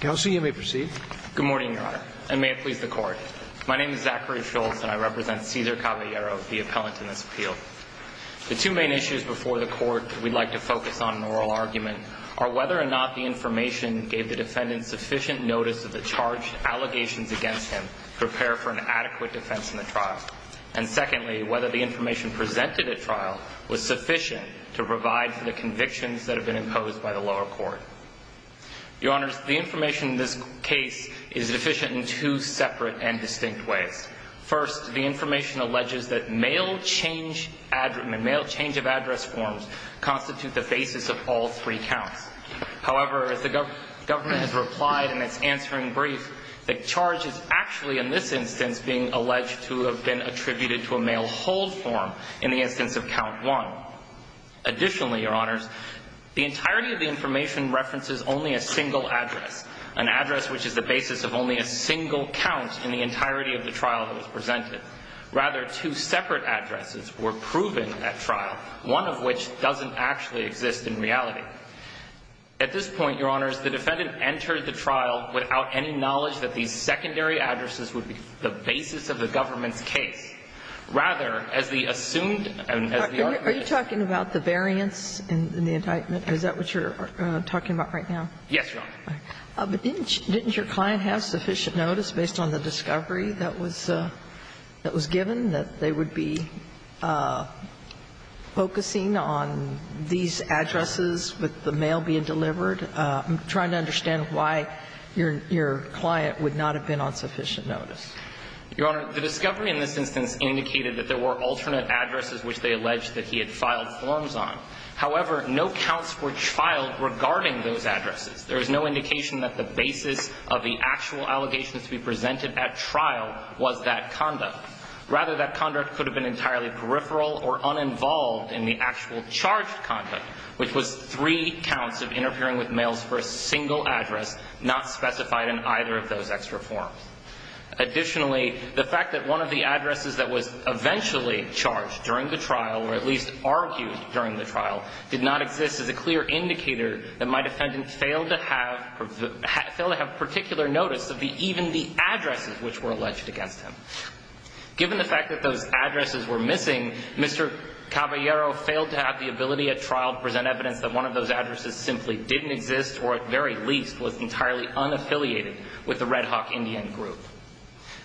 Kelsey, you may proceed. Good morning, Your Honor, and may it please the court. My name is Zachary Schultz and I represent Cesar Caballero, the appellant in this appeal. The two main issues before the court we'd like to focus on in the oral argument are whether or not the information gave the defendant sufficient notice of the charged allegations against him to prepare for an adequate defense in the trial, and secondly, whether the information presented at trial was sufficient to provide for the convictions that have been imposed by the lower court. Your Honor, the information in this case is deficient in two separate and distinct ways. First, the information alleges that mail change of address forms constitute the basis of all three counts. However, as the government has replied in its answering brief, the charge is actually in this instance being alleged to have been attributed to a mail hold form in the instance of count one. Additionally, Your Honors, the entirety of the information references only a single address, an address which is the basis of only a single count in the entirety of the trial that was presented. Rather, two separate addresses were proven at trial, one of which doesn't actually exist in reality. At this point, Your Honors, the defendant entered the trial without any knowledge that these secondary addresses would be the basis of the government's case. Rather, as the assumed and as the argument is. Are you talking about the variance in the indictment? Is that what you're talking about right now? Yes, Your Honor. But didn't your client have sufficient notice based on the discovery that was given, that they would be focusing on these addresses with the mail being delivered? I'm trying to understand why your client would not have been on sufficient notice. Your Honor, the discovery in this instance indicated that there were alternate addresses which they alleged that he had filed forms on. However, no counts were filed regarding those addresses. There is no indication that the basis of the actual allegations to be presented at trial was that conduct. Rather, that conduct could have been entirely peripheral or uninvolved in the actual charged conduct, which was three counts of interfering with mails for a single address, not specified in either of those extra forms. Additionally, the fact that one of the addresses that was eventually charged during the trial, or at least argued during the trial, did not exist is a clear indicator that my defendant failed to have particular notice of even the addresses which were alleged against him. Given the fact that those addresses were missing, Mr. Caballero failed to have the ability at trial to present evidence that one of those addresses simply didn't exist, or at very least was entirely unaffiliated with the Red Hawk Indian group.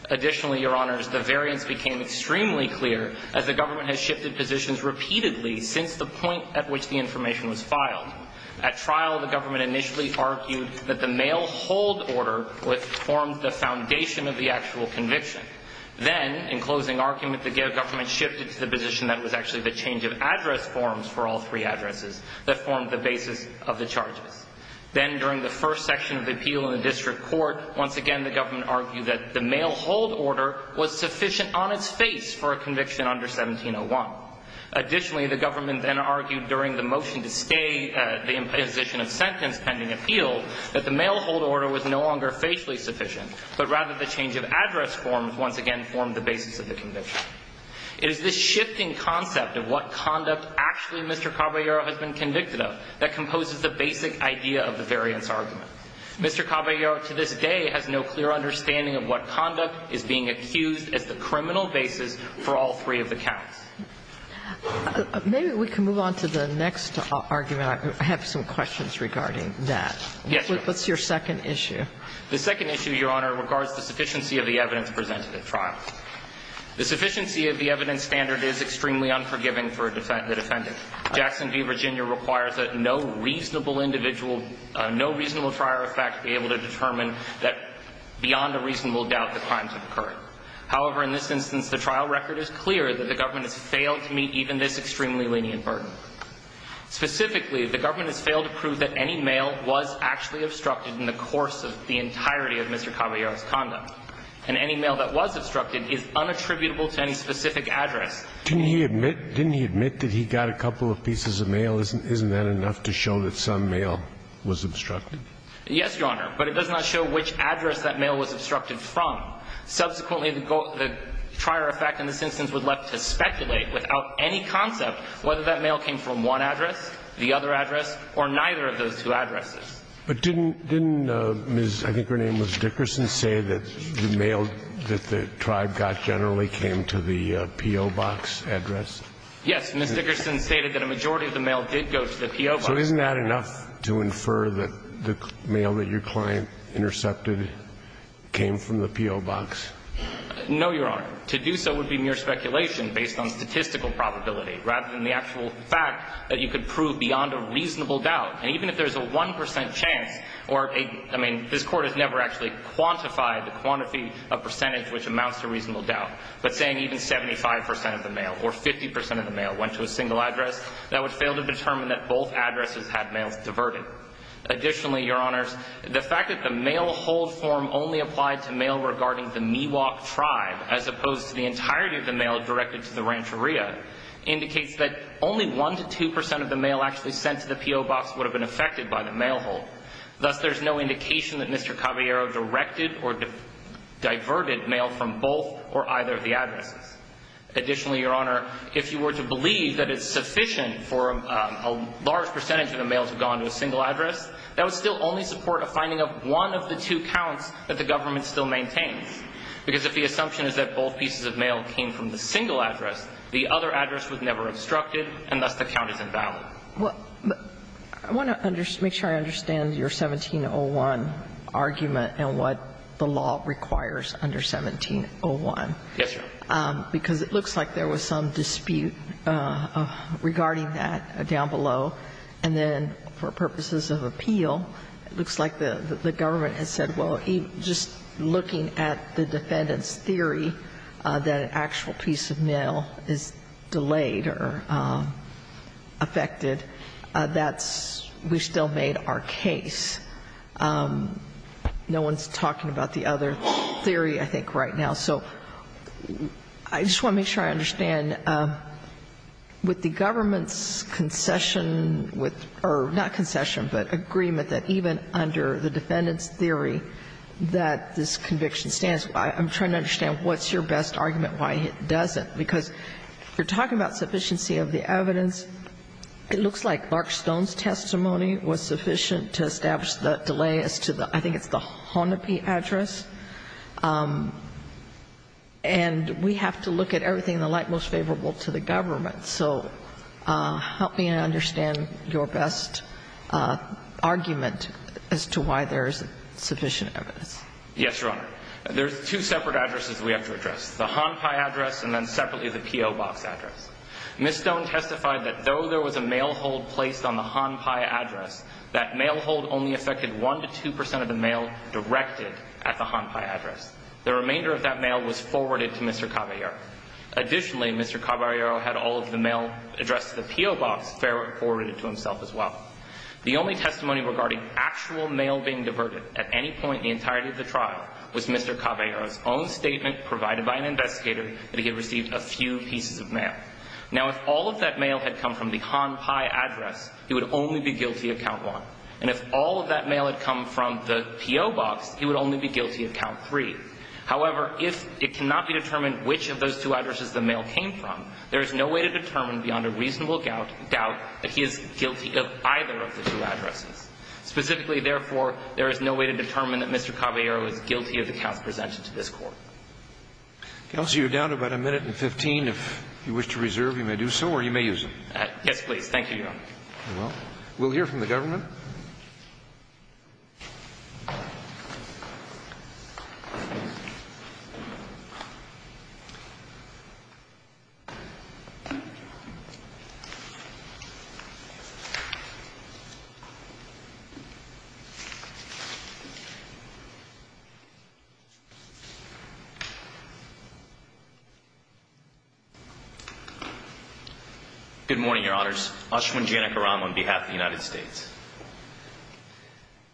Additionally, Your Honors, the variance became extremely clear as the government initially argued that the mail hold order formed the foundation of the actual conviction. Then, in closing argument, the government shifted to the position that it was actually the change of address forms for all three addresses that formed the basis of the charges. Then, during the first section of the appeal in the district court, once again, the government argued that the mail hold order was sufficient on its face for a conviction under 1701. Additionally, the government then argued during the motion to stay the imposition of sentence pending appeal that the mail hold order was no longer facially sufficient, but rather the change of address forms once again formed the basis of the conviction. It is this shifting concept of what conduct actually Mr. Caballero has been convicted of that composes the basic idea of the variance argument. Mr. Caballero to this day has no clear understanding of what conduct is being accused as the criminal basis for all three of the counts. Maybe we can move on to the next argument. I have some questions regarding that. Yes, Your Honor. What's your second issue? The second issue, Your Honor, regards the sufficiency of the evidence presented at trial. The sufficiency of the evidence standard is extremely unforgiving for a defendant. Jackson v. Virginia requires that no reasonable individual, no reasonable trier of fact be able to determine that beyond a reasonable doubt the crimes have occurred. However, in this instance, the trial record is clear that the government has failed to meet even this extremely lenient burden. Specifically, the government has failed to prove that any mail was actually obstructed in the course of the entirety of Mr. Caballero's conduct. And any mail that was obstructed is unattributable to any specific address. Didn't he admit that he got a couple of pieces of mail? Isn't that enough to show that some mail was obstructed? Yes, Your Honor. But it does not show which address that mail was obstructed from. Subsequently, the goal of the trier of fact in this instance would let us speculate without any concept whether that mail came from one address, the other address, or neither of those two addresses. But didn't Ms. I think her name was Dickerson say that the mail that the tribe got generally came to the P.O. Box address? Yes. Ms. Dickerson stated that a majority of the mail did go to the P.O. Box. So isn't that enough to infer that the mail that your client intercepted came from the P.O. Box? No, Your Honor. To do so would be mere speculation based on statistical probability rather than the actual fact that you could prove beyond a reasonable doubt. And even if there's a 1% chance or a – I mean, this Court has never actually quantified the quantity of percentage which amounts to reasonable doubt. But saying even 75% of the mail or 50% of the mail went to a single address, that would fail to determine that both addresses had mails diverted. Additionally, Your Honors, the fact that the mail hold form only applied to mail regarding the Miwok tribe as opposed to the entirety of the mail directed to the Rancheria indicates that only 1% to 2% of the mail actually sent to the P.O. Box would have been affected by the mail hold. Thus, there's no indication that Mr. Caballero directed or diverted mail from both or either of the addresses. Additionally, Your Honor, if you were to believe that it's sufficient for a large percentage of the mail to have gone to a single address, that would still only support a finding of one of the two counts that the government still maintains. Because if the assumption is that both pieces of mail came from the single address, the other address was never obstructed, and thus the count is invalid. Well, I want to make sure I understand your 1701 argument and what the law requires under 1701. Yes, Your Honor. Because it looks like there was some dispute regarding that down below. And then for purposes of appeal, it looks like the government has said, well, just looking at the defendant's theory that an actual piece of mail is delayed or affected, that's we've still made our case. No one's talking about the other theory, I think, right now. So I just want to make sure I understand. With the government's concession with or not concession, but agreement that even under the defendant's theory that this conviction stands, I'm trying to understand what's your best argument why it doesn't. Because you're talking about sufficiency of the evidence. It looks like Mark Stone's testimony was sufficient to establish the delay as to the I think it's the Honopi address. And we have to look at everything in the light most favorable to the government. So help me understand your best argument as to why there isn't sufficient evidence. Yes, Your Honor. There's two separate addresses we have to address, the Honpi address and then separately the PO Box address. Ms. Stone testified that though there was a mail hold placed on the Honpi address, that mail hold only affected 1 to 2 percent of the mail directed at the Honpi address. The remainder of that mail was forwarded to Mr. Caballero. Additionally, Mr. Caballero had all of the mail addressed to the PO Box forwarded to himself as well. The only testimony regarding actual mail being diverted at any point in the entirety of the trial was Mr. Caballero's own statement provided by an investigator that he had received a few pieces of mail. Now, if all of that mail had come from the Honpi address, he would only be guilty of count 1. And if all of that mail had come from the PO Box, he would only be guilty of count 3. However, if it cannot be determined which of those two addresses the mail came from, there is no way to determine beyond a reasonable doubt that he is guilty of either of the two addresses. Specifically, therefore, there is no way to determine that Mr. Caballero is guilty of the counts presented to this Court. Counsel, you're down to about a minute and 15. If you wish to reserve, you may do so, or you may use them. Yes, please. Thank you, Your Honor. Well, we'll hear from the government. Good morning, Your Honors. Ashwin Janakaram on behalf of the United States.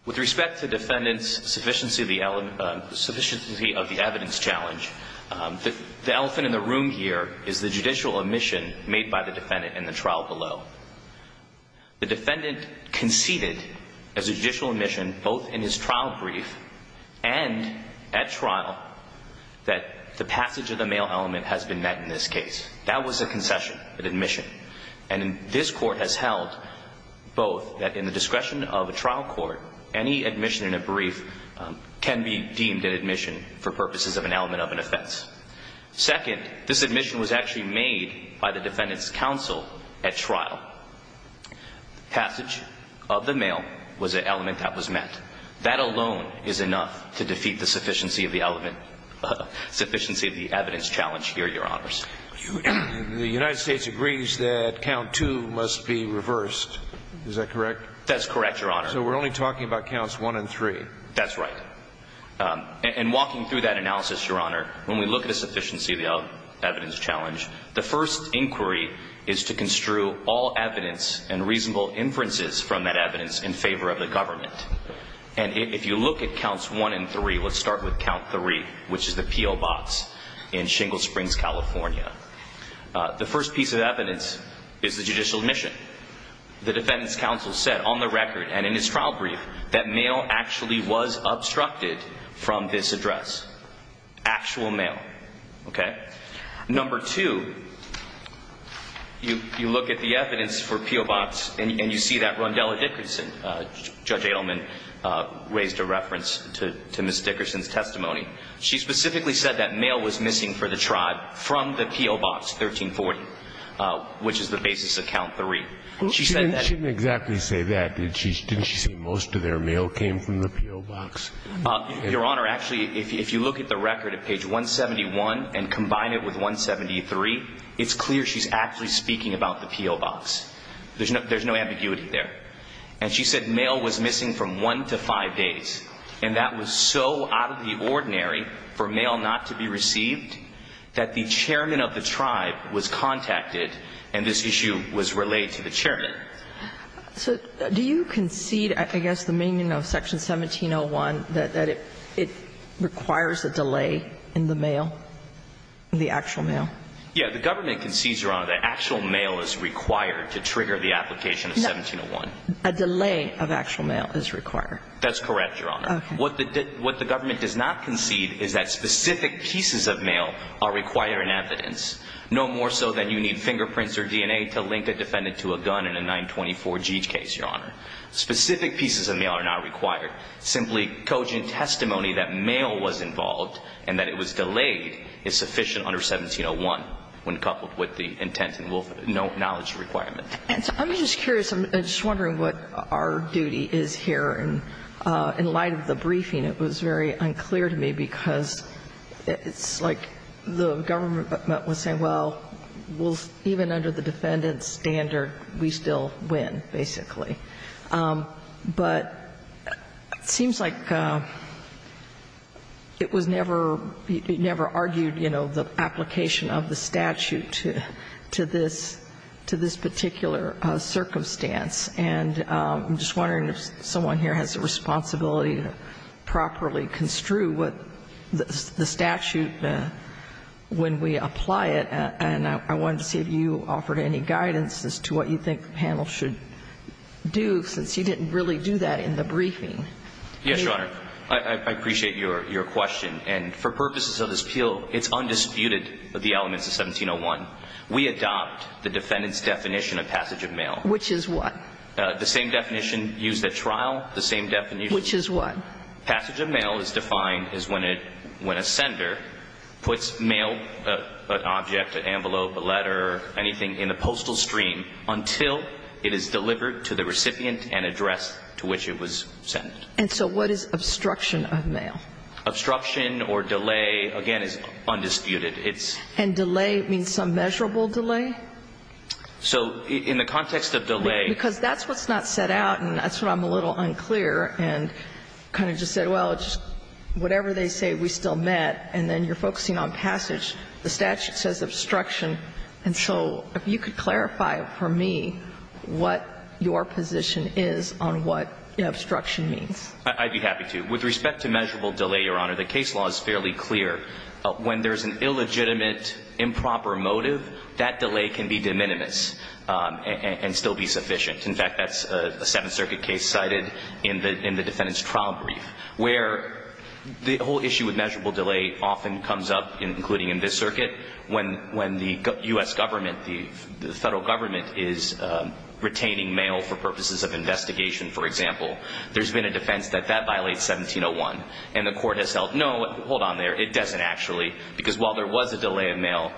With respect to the defendant's sufficiency of the evidence challenge, the elephant in the room here is the judicial admission made by the defendant in the trial below. The defendant conceded as a judicial admission both in his trial brief and at trial that the passage of the mail element has been met in this case. That was a concession, an admission. And this Court has held both that in the discretion of a trial court, any admission in a brief can be deemed an admission for purposes of an element of an offense. Second, this admission was actually made by the defendant's counsel at trial. Passage of the mail was an element that was met. That alone is enough to defeat the sufficiency of the evidence challenge here, Your Honors. The United States agrees that count two must be reversed. Is that correct? That's correct, Your Honor. So we're only talking about counts one and three. That's right. And walking through that analysis, Your Honor, when we look at a sufficiency of the evidence challenge, the first inquiry is to construe all evidence and reasonable inferences from that evidence in favor of the government. And if you look at counts one and three, let's start with count three, which is the P.O. Box in Shingle Springs, California. The first piece of evidence is the judicial admission. The defendant's counsel said on the record and in his trial brief that mail actually was obstructed from this address. Actual mail. Okay? Number two, you look at the evidence for P.O. Box and you see that Rondella Dickerson, Judge Adelman, raised a reference to Ms. Dickerson's testimony. She specifically said that mail was missing for the tribe from the P.O. Box 1340, which is the basis of count three. She said that at the time. She didn't exactly say that. Didn't she say most of their mail came from the P.O. Box? Your Honor, actually, if you look at the record at page 171 and combine it with 173, it's clear she's actually speaking about the P.O. Box. There's no ambiguity there. And she said mail was missing from one to five days. And that was so out of the ordinary for mail not to be received that the chairman of the tribe was contacted and this issue was relayed to the chairman. So do you concede, I guess, the meaning of section 1701, that it requires a delay in the mail, the actual mail? Yeah. The government concedes, Your Honor, that actual mail is required to trigger the application of 1701. A delay of actual mail is required. That's correct, Your Honor. Okay. What the government does not concede is that specific pieces of mail are required in evidence, no more so than you need fingerprints or DNA to link a defendant to a gun in a 924-G case, Your Honor. Specific pieces of mail are not required. Simply cogent testimony that mail was involved and that it was delayed is sufficient under 1701 when coupled with the intent and knowledge requirement. I'm just curious. I'm just wondering what our duty is here. In light of the briefing, it was very unclear to me because it's like the government was saying, well, even under the defendant's standard, we still win, basically. But it seems like it was never argued, you know, the application of the statute to this particular circumstance, and I'm just wondering if someone here has a responsibility to properly construe what the statute, when we apply it, and I wanted to see if you offered any guidance as to what you think the panel should do, since you didn't really do that in the briefing. Yes, Your Honor. I appreciate your question, and for purposes of this appeal, it's undisputed that the elements of 1701. We adopt the defendant's definition of passage of mail. Which is what? The same definition used at trial, the same definition. Which is what? Passage of mail is defined as when a sender puts mail, an object, an envelope, a letter, anything in a postal stream until it is delivered to the recipient and addressed to which it was sent. And so what is obstruction of mail? Obstruction or delay, again, is undisputed. And delay means some measurable delay? So in the context of delay ---- Because that's what's not set out, and that's what I'm a little unclear, and kind of just said, well, just whatever they say, we still met, and then you're focusing on passage. The statute says obstruction, and so if you could clarify for me what your position is on what obstruction means. I'd be happy to. With respect to measurable delay, Your Honor, the case law is fairly clear. When there's an illegitimate improper motive, that delay can be de minimis and still be sufficient. In fact, that's a Seventh Circuit case cited in the defendant's trial brief where the whole issue with measurable delay often comes up, including in this circuit, when the U.S. government, the federal government, is retaining mail for purposes of investigation, for example. There's been a defense that that violates 1701, and the court has held, no, hold on there, it doesn't actually, because while there was a delay of mail,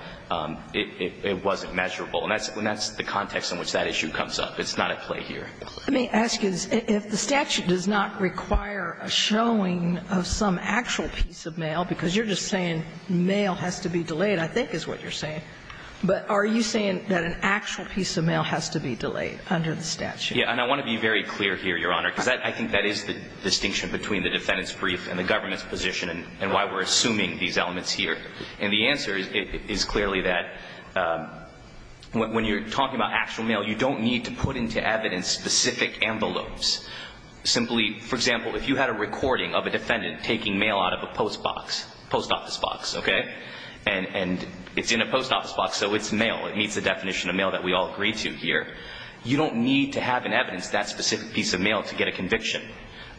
it wasn't measurable. And that's the context in which that issue comes up. It's not at play here. Let me ask you, if the statute does not require a showing of some actual piece of mail, because you're just saying mail has to be delayed, I think is what you're saying, but are you saying that an actual piece of mail has to be delayed under the statute? Yeah. And I want to be very clear here, Your Honor, because I think that is the distinction between the defendant's brief and the government's position and why we're assuming these elements here. And the answer is clearly that when you're talking about actual mail, you don't need to put into evidence specific envelopes. Simply, for example, if you had a recording of a defendant taking mail out of a post box, post office box, okay? And it's in a post office box, so it's mail. It meets the definition of mail that we all agree to here. You don't need to have in evidence that specific piece of mail to get a conviction.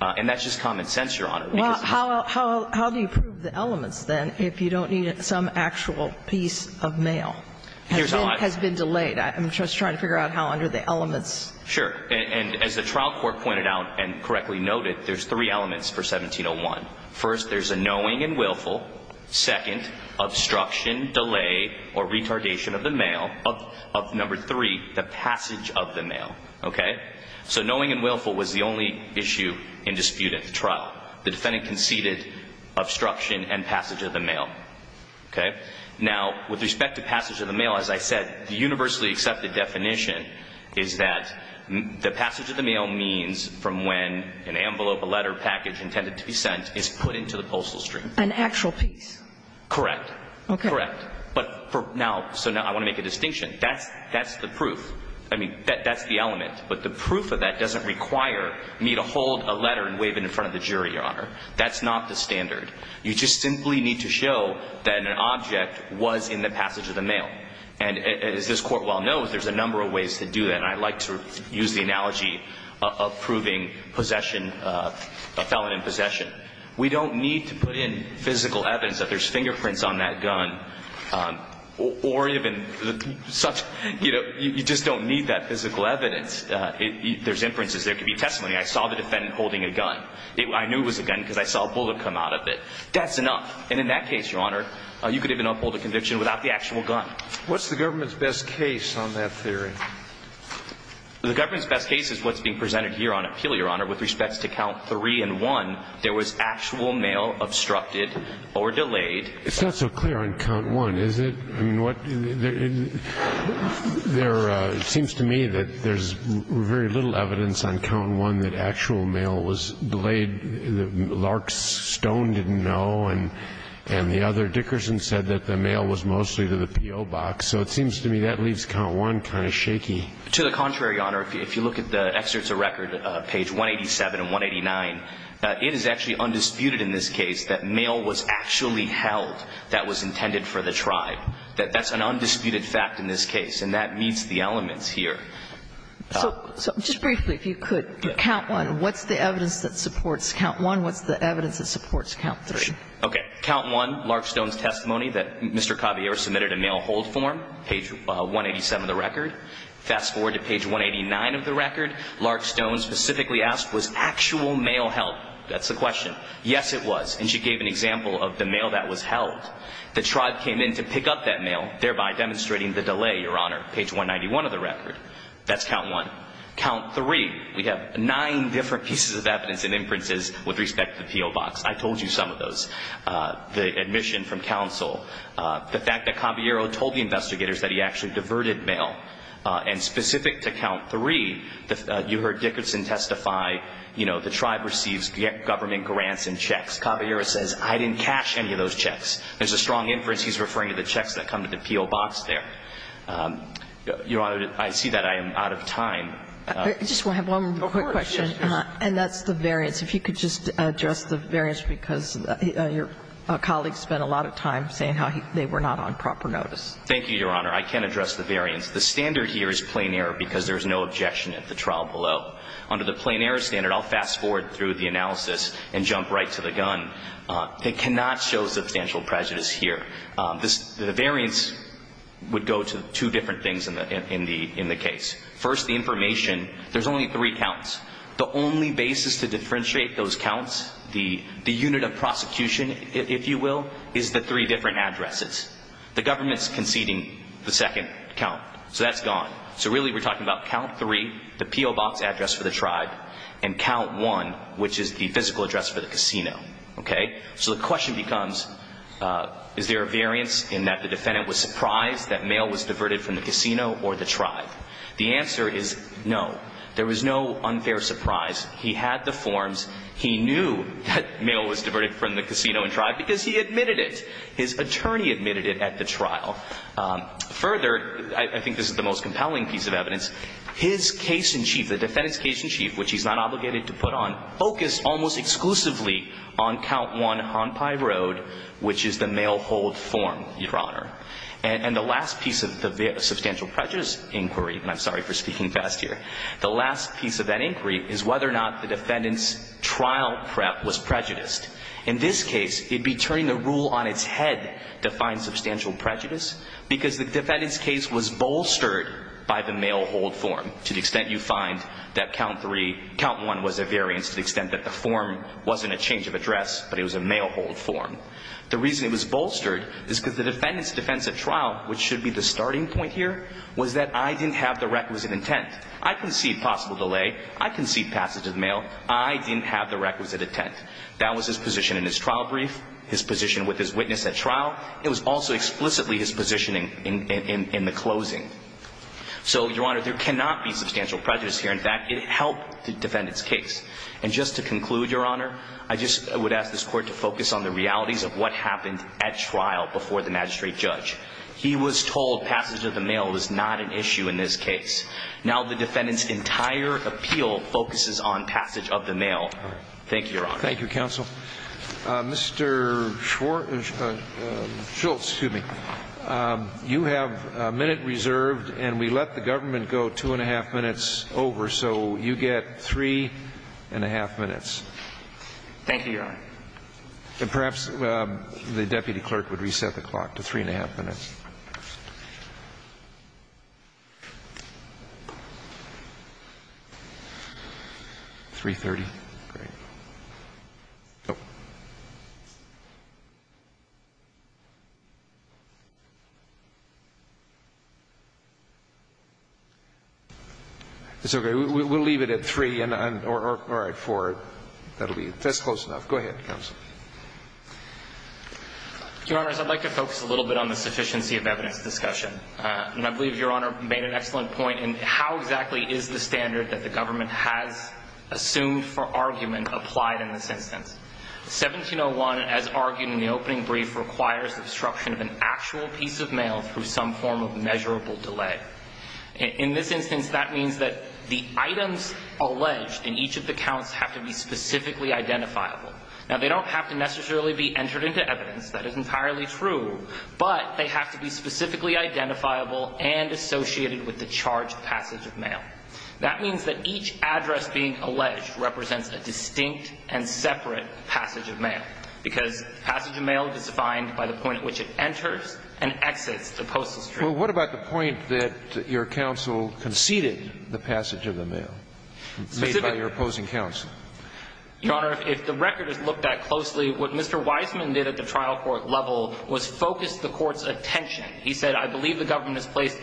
And that's just common sense, Your Honor. Well, how do you prove the elements, then, if you don't need some actual piece of mail? Here's how I do it. Has been delayed. I'm just trying to figure out how under the elements. Sure. And as the trial court pointed out and correctly noted, there's three elements for 1701. First, there's a knowing and willful. Second, obstruction, delay, or retardation of the mail. Of number three, the passage of the mail. Okay? So knowing and willful was the only issue in dispute at the trial. The defendant conceded obstruction and passage of the mail. Okay? Now, with respect to passage of the mail, as I said, the universally accepted definition is that the passage of the mail means from when an envelope, a letter, package intended to be sent is put into the postal stream. An actual piece. Correct. Okay. Correct. But for now, so now I want to make a distinction. That's the proof. I mean, that's the element. But the proof of that doesn't require me to hold a letter and wave it in front of the jury, Your Honor. That's not the standard. You just simply need to show that an object was in the passage of the mail. And as this Court well knows, there's a number of ways to do that. And I like to use the analogy of proving possession, a felon in possession. We don't need to put in physical evidence that there's fingerprints on that gun or even such, you know, you just don't need that physical evidence. There's inferences. There could be testimony. I saw the defendant holding a gun. I knew it was a gun because I saw a bullet come out of it. That's enough. And in that case, Your Honor, you could even uphold a conviction without the actual gun. What's the government's best case on that theory? The government's best case is what's being presented here on appeal, Your Honor. With respect to count three and one, there was actual mail obstructed or delayed. It's not so clear on count one, is it? I mean, there seems to me that there's very little evidence on count one that actual mail was delayed. Lark Stone didn't know and the other. Dickerson said that the mail was mostly to the PO box. So it seems to me that leaves count one kind of shaky. To the contrary, Your Honor, if you look at the excerpts of record, page 187 and 189, it is actually undisputed in this case that mail was actually held that was intended for the tribe. That's an undisputed fact in this case. And that meets the elements here. So just briefly, if you could, count one. What's the evidence that supports count one? What's the evidence that supports count three? Okay. Count one, Lark Stone's testimony that Mr. Caballero submitted a mail hold form, page 187 of the record. Fast forward to page 189 of the record. Lark Stone specifically asked, was actual mail held? That's the question. Yes, it was. And she gave an example of the mail that was held. The tribe came in to pick up that mail, thereby demonstrating the delay, Your Honor, page 191 of the record. That's count one. Count three, we have nine different pieces of evidence and inferences with respect to the PO box. I told you some of those. The admission from counsel. The fact that Caballero told the investigators that he actually diverted mail. And specific to count three, you heard Dickerson testify, you know, the tribe receives government grants and checks. Caballero says, I didn't cash any of those checks. There's a strong inference he's referring to the checks that come to the PO box there. Your Honor, I see that I am out of time. I just have one quick question. Of course. And that's the variance. If you could just address the variance, because your colleague spent a lot of time saying how they were not on proper notice. Thank you, Your Honor. I can address the variance. The standard here is plain error because there's no objection at the trial below. Under the plain error standard, I'll fast forward through the analysis and jump right to the gun. It cannot show substantial prejudice here. The variance would go to two different things in the case. First, the information. There's only three counts. The only basis to differentiate those counts, the unit of prosecution, if you will, is the three different addresses. The government's conceding the second count. So that's gone. So really we're talking about count three, the PO box address for the tribe, and count one, which is the physical address for the casino. Okay? So the question becomes, is there a variance in that the defendant was surprised that mail was diverted from the casino or the tribe? The answer is no. There was no unfair surprise. He had the forms. He knew that mail was diverted from the casino and tribe because he admitted it. His attorney admitted it at the trial. Further, I think this is the most compelling piece of evidence, his case-in-chief, the defendant's case-in-chief, which he's not obligated to put on, focused almost exclusively on count one, Hon Pai Road, which is the mail hold form, Your Honor. And the last piece of the substantial prejudice inquiry, and I'm sorry for speaking fast here, the last piece of that inquiry is whether or not the defendant's trial prep was prejudiced. In this case, it would be turning the rule on its head to find substantial prejudice because the defendant's case was bolstered by the mail hold form, to the extent you find that count one was a variance to the extent that the form wasn't a change of address, but it was a mail hold form. The reason it was bolstered is because the defendant's defense at trial, which should be the starting point here, was that I didn't have the requisite intent. I concede possible delay. I concede passage of the mail. I didn't have the requisite intent. That was his position in his trial brief, his position with his witness at trial. It was also explicitly his positioning in the closing. So, Your Honor, there cannot be substantial prejudice here. In fact, it helped the defendant's case. And just to conclude, Your Honor, I just would ask this Court to focus on the realities of what happened at trial before the magistrate judge. He was told passage of the mail was not an issue in this case. Now the defendant's entire appeal focuses on passage of the mail. Thank you, Your Honor. Thank you, counsel. Mr. Schwartz or Schultz, excuse me. You have a minute reserved, and we let the government go two and a half minutes over, so you get three and a half minutes. Thank you, Your Honor. And perhaps the deputy clerk would reset the clock to three and a half minutes. Three-thirty. Great. It's okay. We'll leave it at three or at four. That's close enough. Go ahead, counsel. Your Honors, I'd like to focus a little bit on the sufficiency of evidence discussion. And I believe Your Honor made an excellent point in how exactly is the standard that the government has assumed for argument applied in this instance. 1701, as argued in the opening brief, requires the obstruction of an actual piece of mail through some form of measurable delay. In this instance, that means that the items alleged in each of the counts have to be specifically identifiable. Now, they don't have to necessarily be entered into evidence. That is entirely true. But they have to be specifically identifiable and associated with the charged passage of mail. That means that each address being alleged represents a distinct and separate passage of mail, because passage of mail is defined by the point at which it enters and exits the postal street. Well, what about the point that your counsel conceded the passage of the mail made by your opposing counsel? Your Honor, if the record is looked at closely, what Mr. Wiseman did at the trial court level was focus the court's attention. He said, I believe the government has placed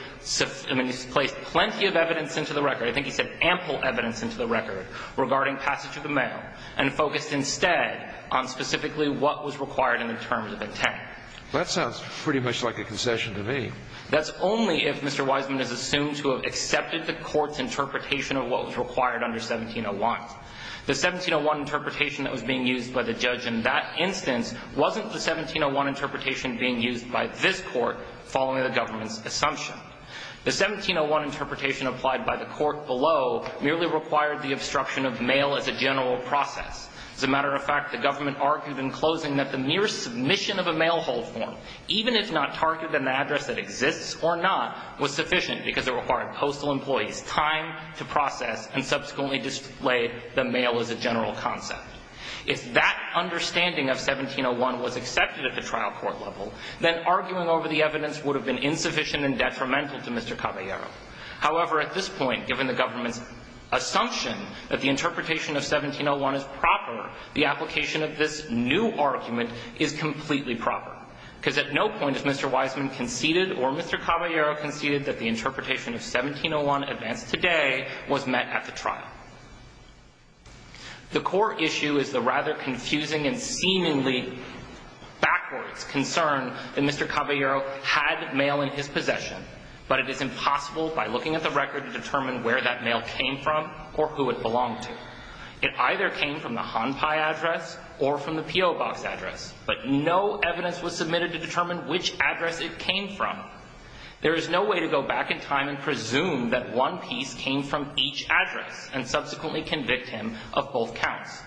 plenty of evidence into the record. I think he said ample evidence into the record regarding passage of the mail and focused instead on specifically what was required in the terms of intent. That sounds pretty much like a concession to me. That's only if Mr. Wiseman has assumed to have accepted the court's interpretation of what was required under 1701. The 1701 interpretation that was being used by the judge in that instance wasn't the 1701 interpretation being used by this court following the government's assumption. The 1701 interpretation applied by the court below merely required the obstruction of mail as a general process. As a matter of fact, the government argued in closing that the mere submission of a mail hold form, even if not targeted in the address that exists or not, was a general process and subsequently displayed the mail as a general concept. If that understanding of 1701 was accepted at the trial court level, then arguing over the evidence would have been insufficient and detrimental to Mr. Caballero. However, at this point, given the government's assumption that the interpretation of 1701 is proper, the application of this new argument is completely proper. Because at no point has Mr. Wiseman conceded or Mr. Caballero conceded that the mail was met at the trial. The core issue is the rather confusing and seemingly backwards concern that Mr. Caballero had mail in his possession, but it is impossible by looking at the record to determine where that mail came from or who it belonged to. It either came from the Han Pai address or from the P.O. Box address, but no evidence was submitted to determine which address it came from. There is no way to go back in time and presume that one piece came from each address and subsequently convict him of both counts.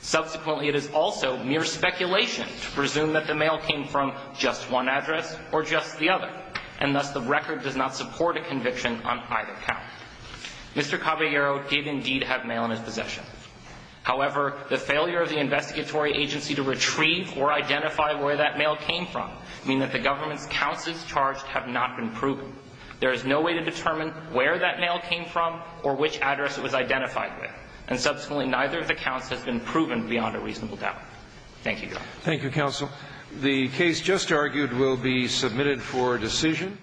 Subsequently, it is also mere speculation to presume that the mail came from just one address or just the other, and thus the record does not support a conviction on either count. Mr. Caballero did indeed have mail in his possession. However, the failure of the investigatory agency to retrieve or identify where that mail came from mean that the government's counts it's charged have not been proven. There is no way to determine where that mail came from or which address it was identified with, and subsequently neither of the counts has been proven beyond a reasonable doubt. Thank you, Your Honor. Thank you, counsel. The case just argued will be submitted for decision.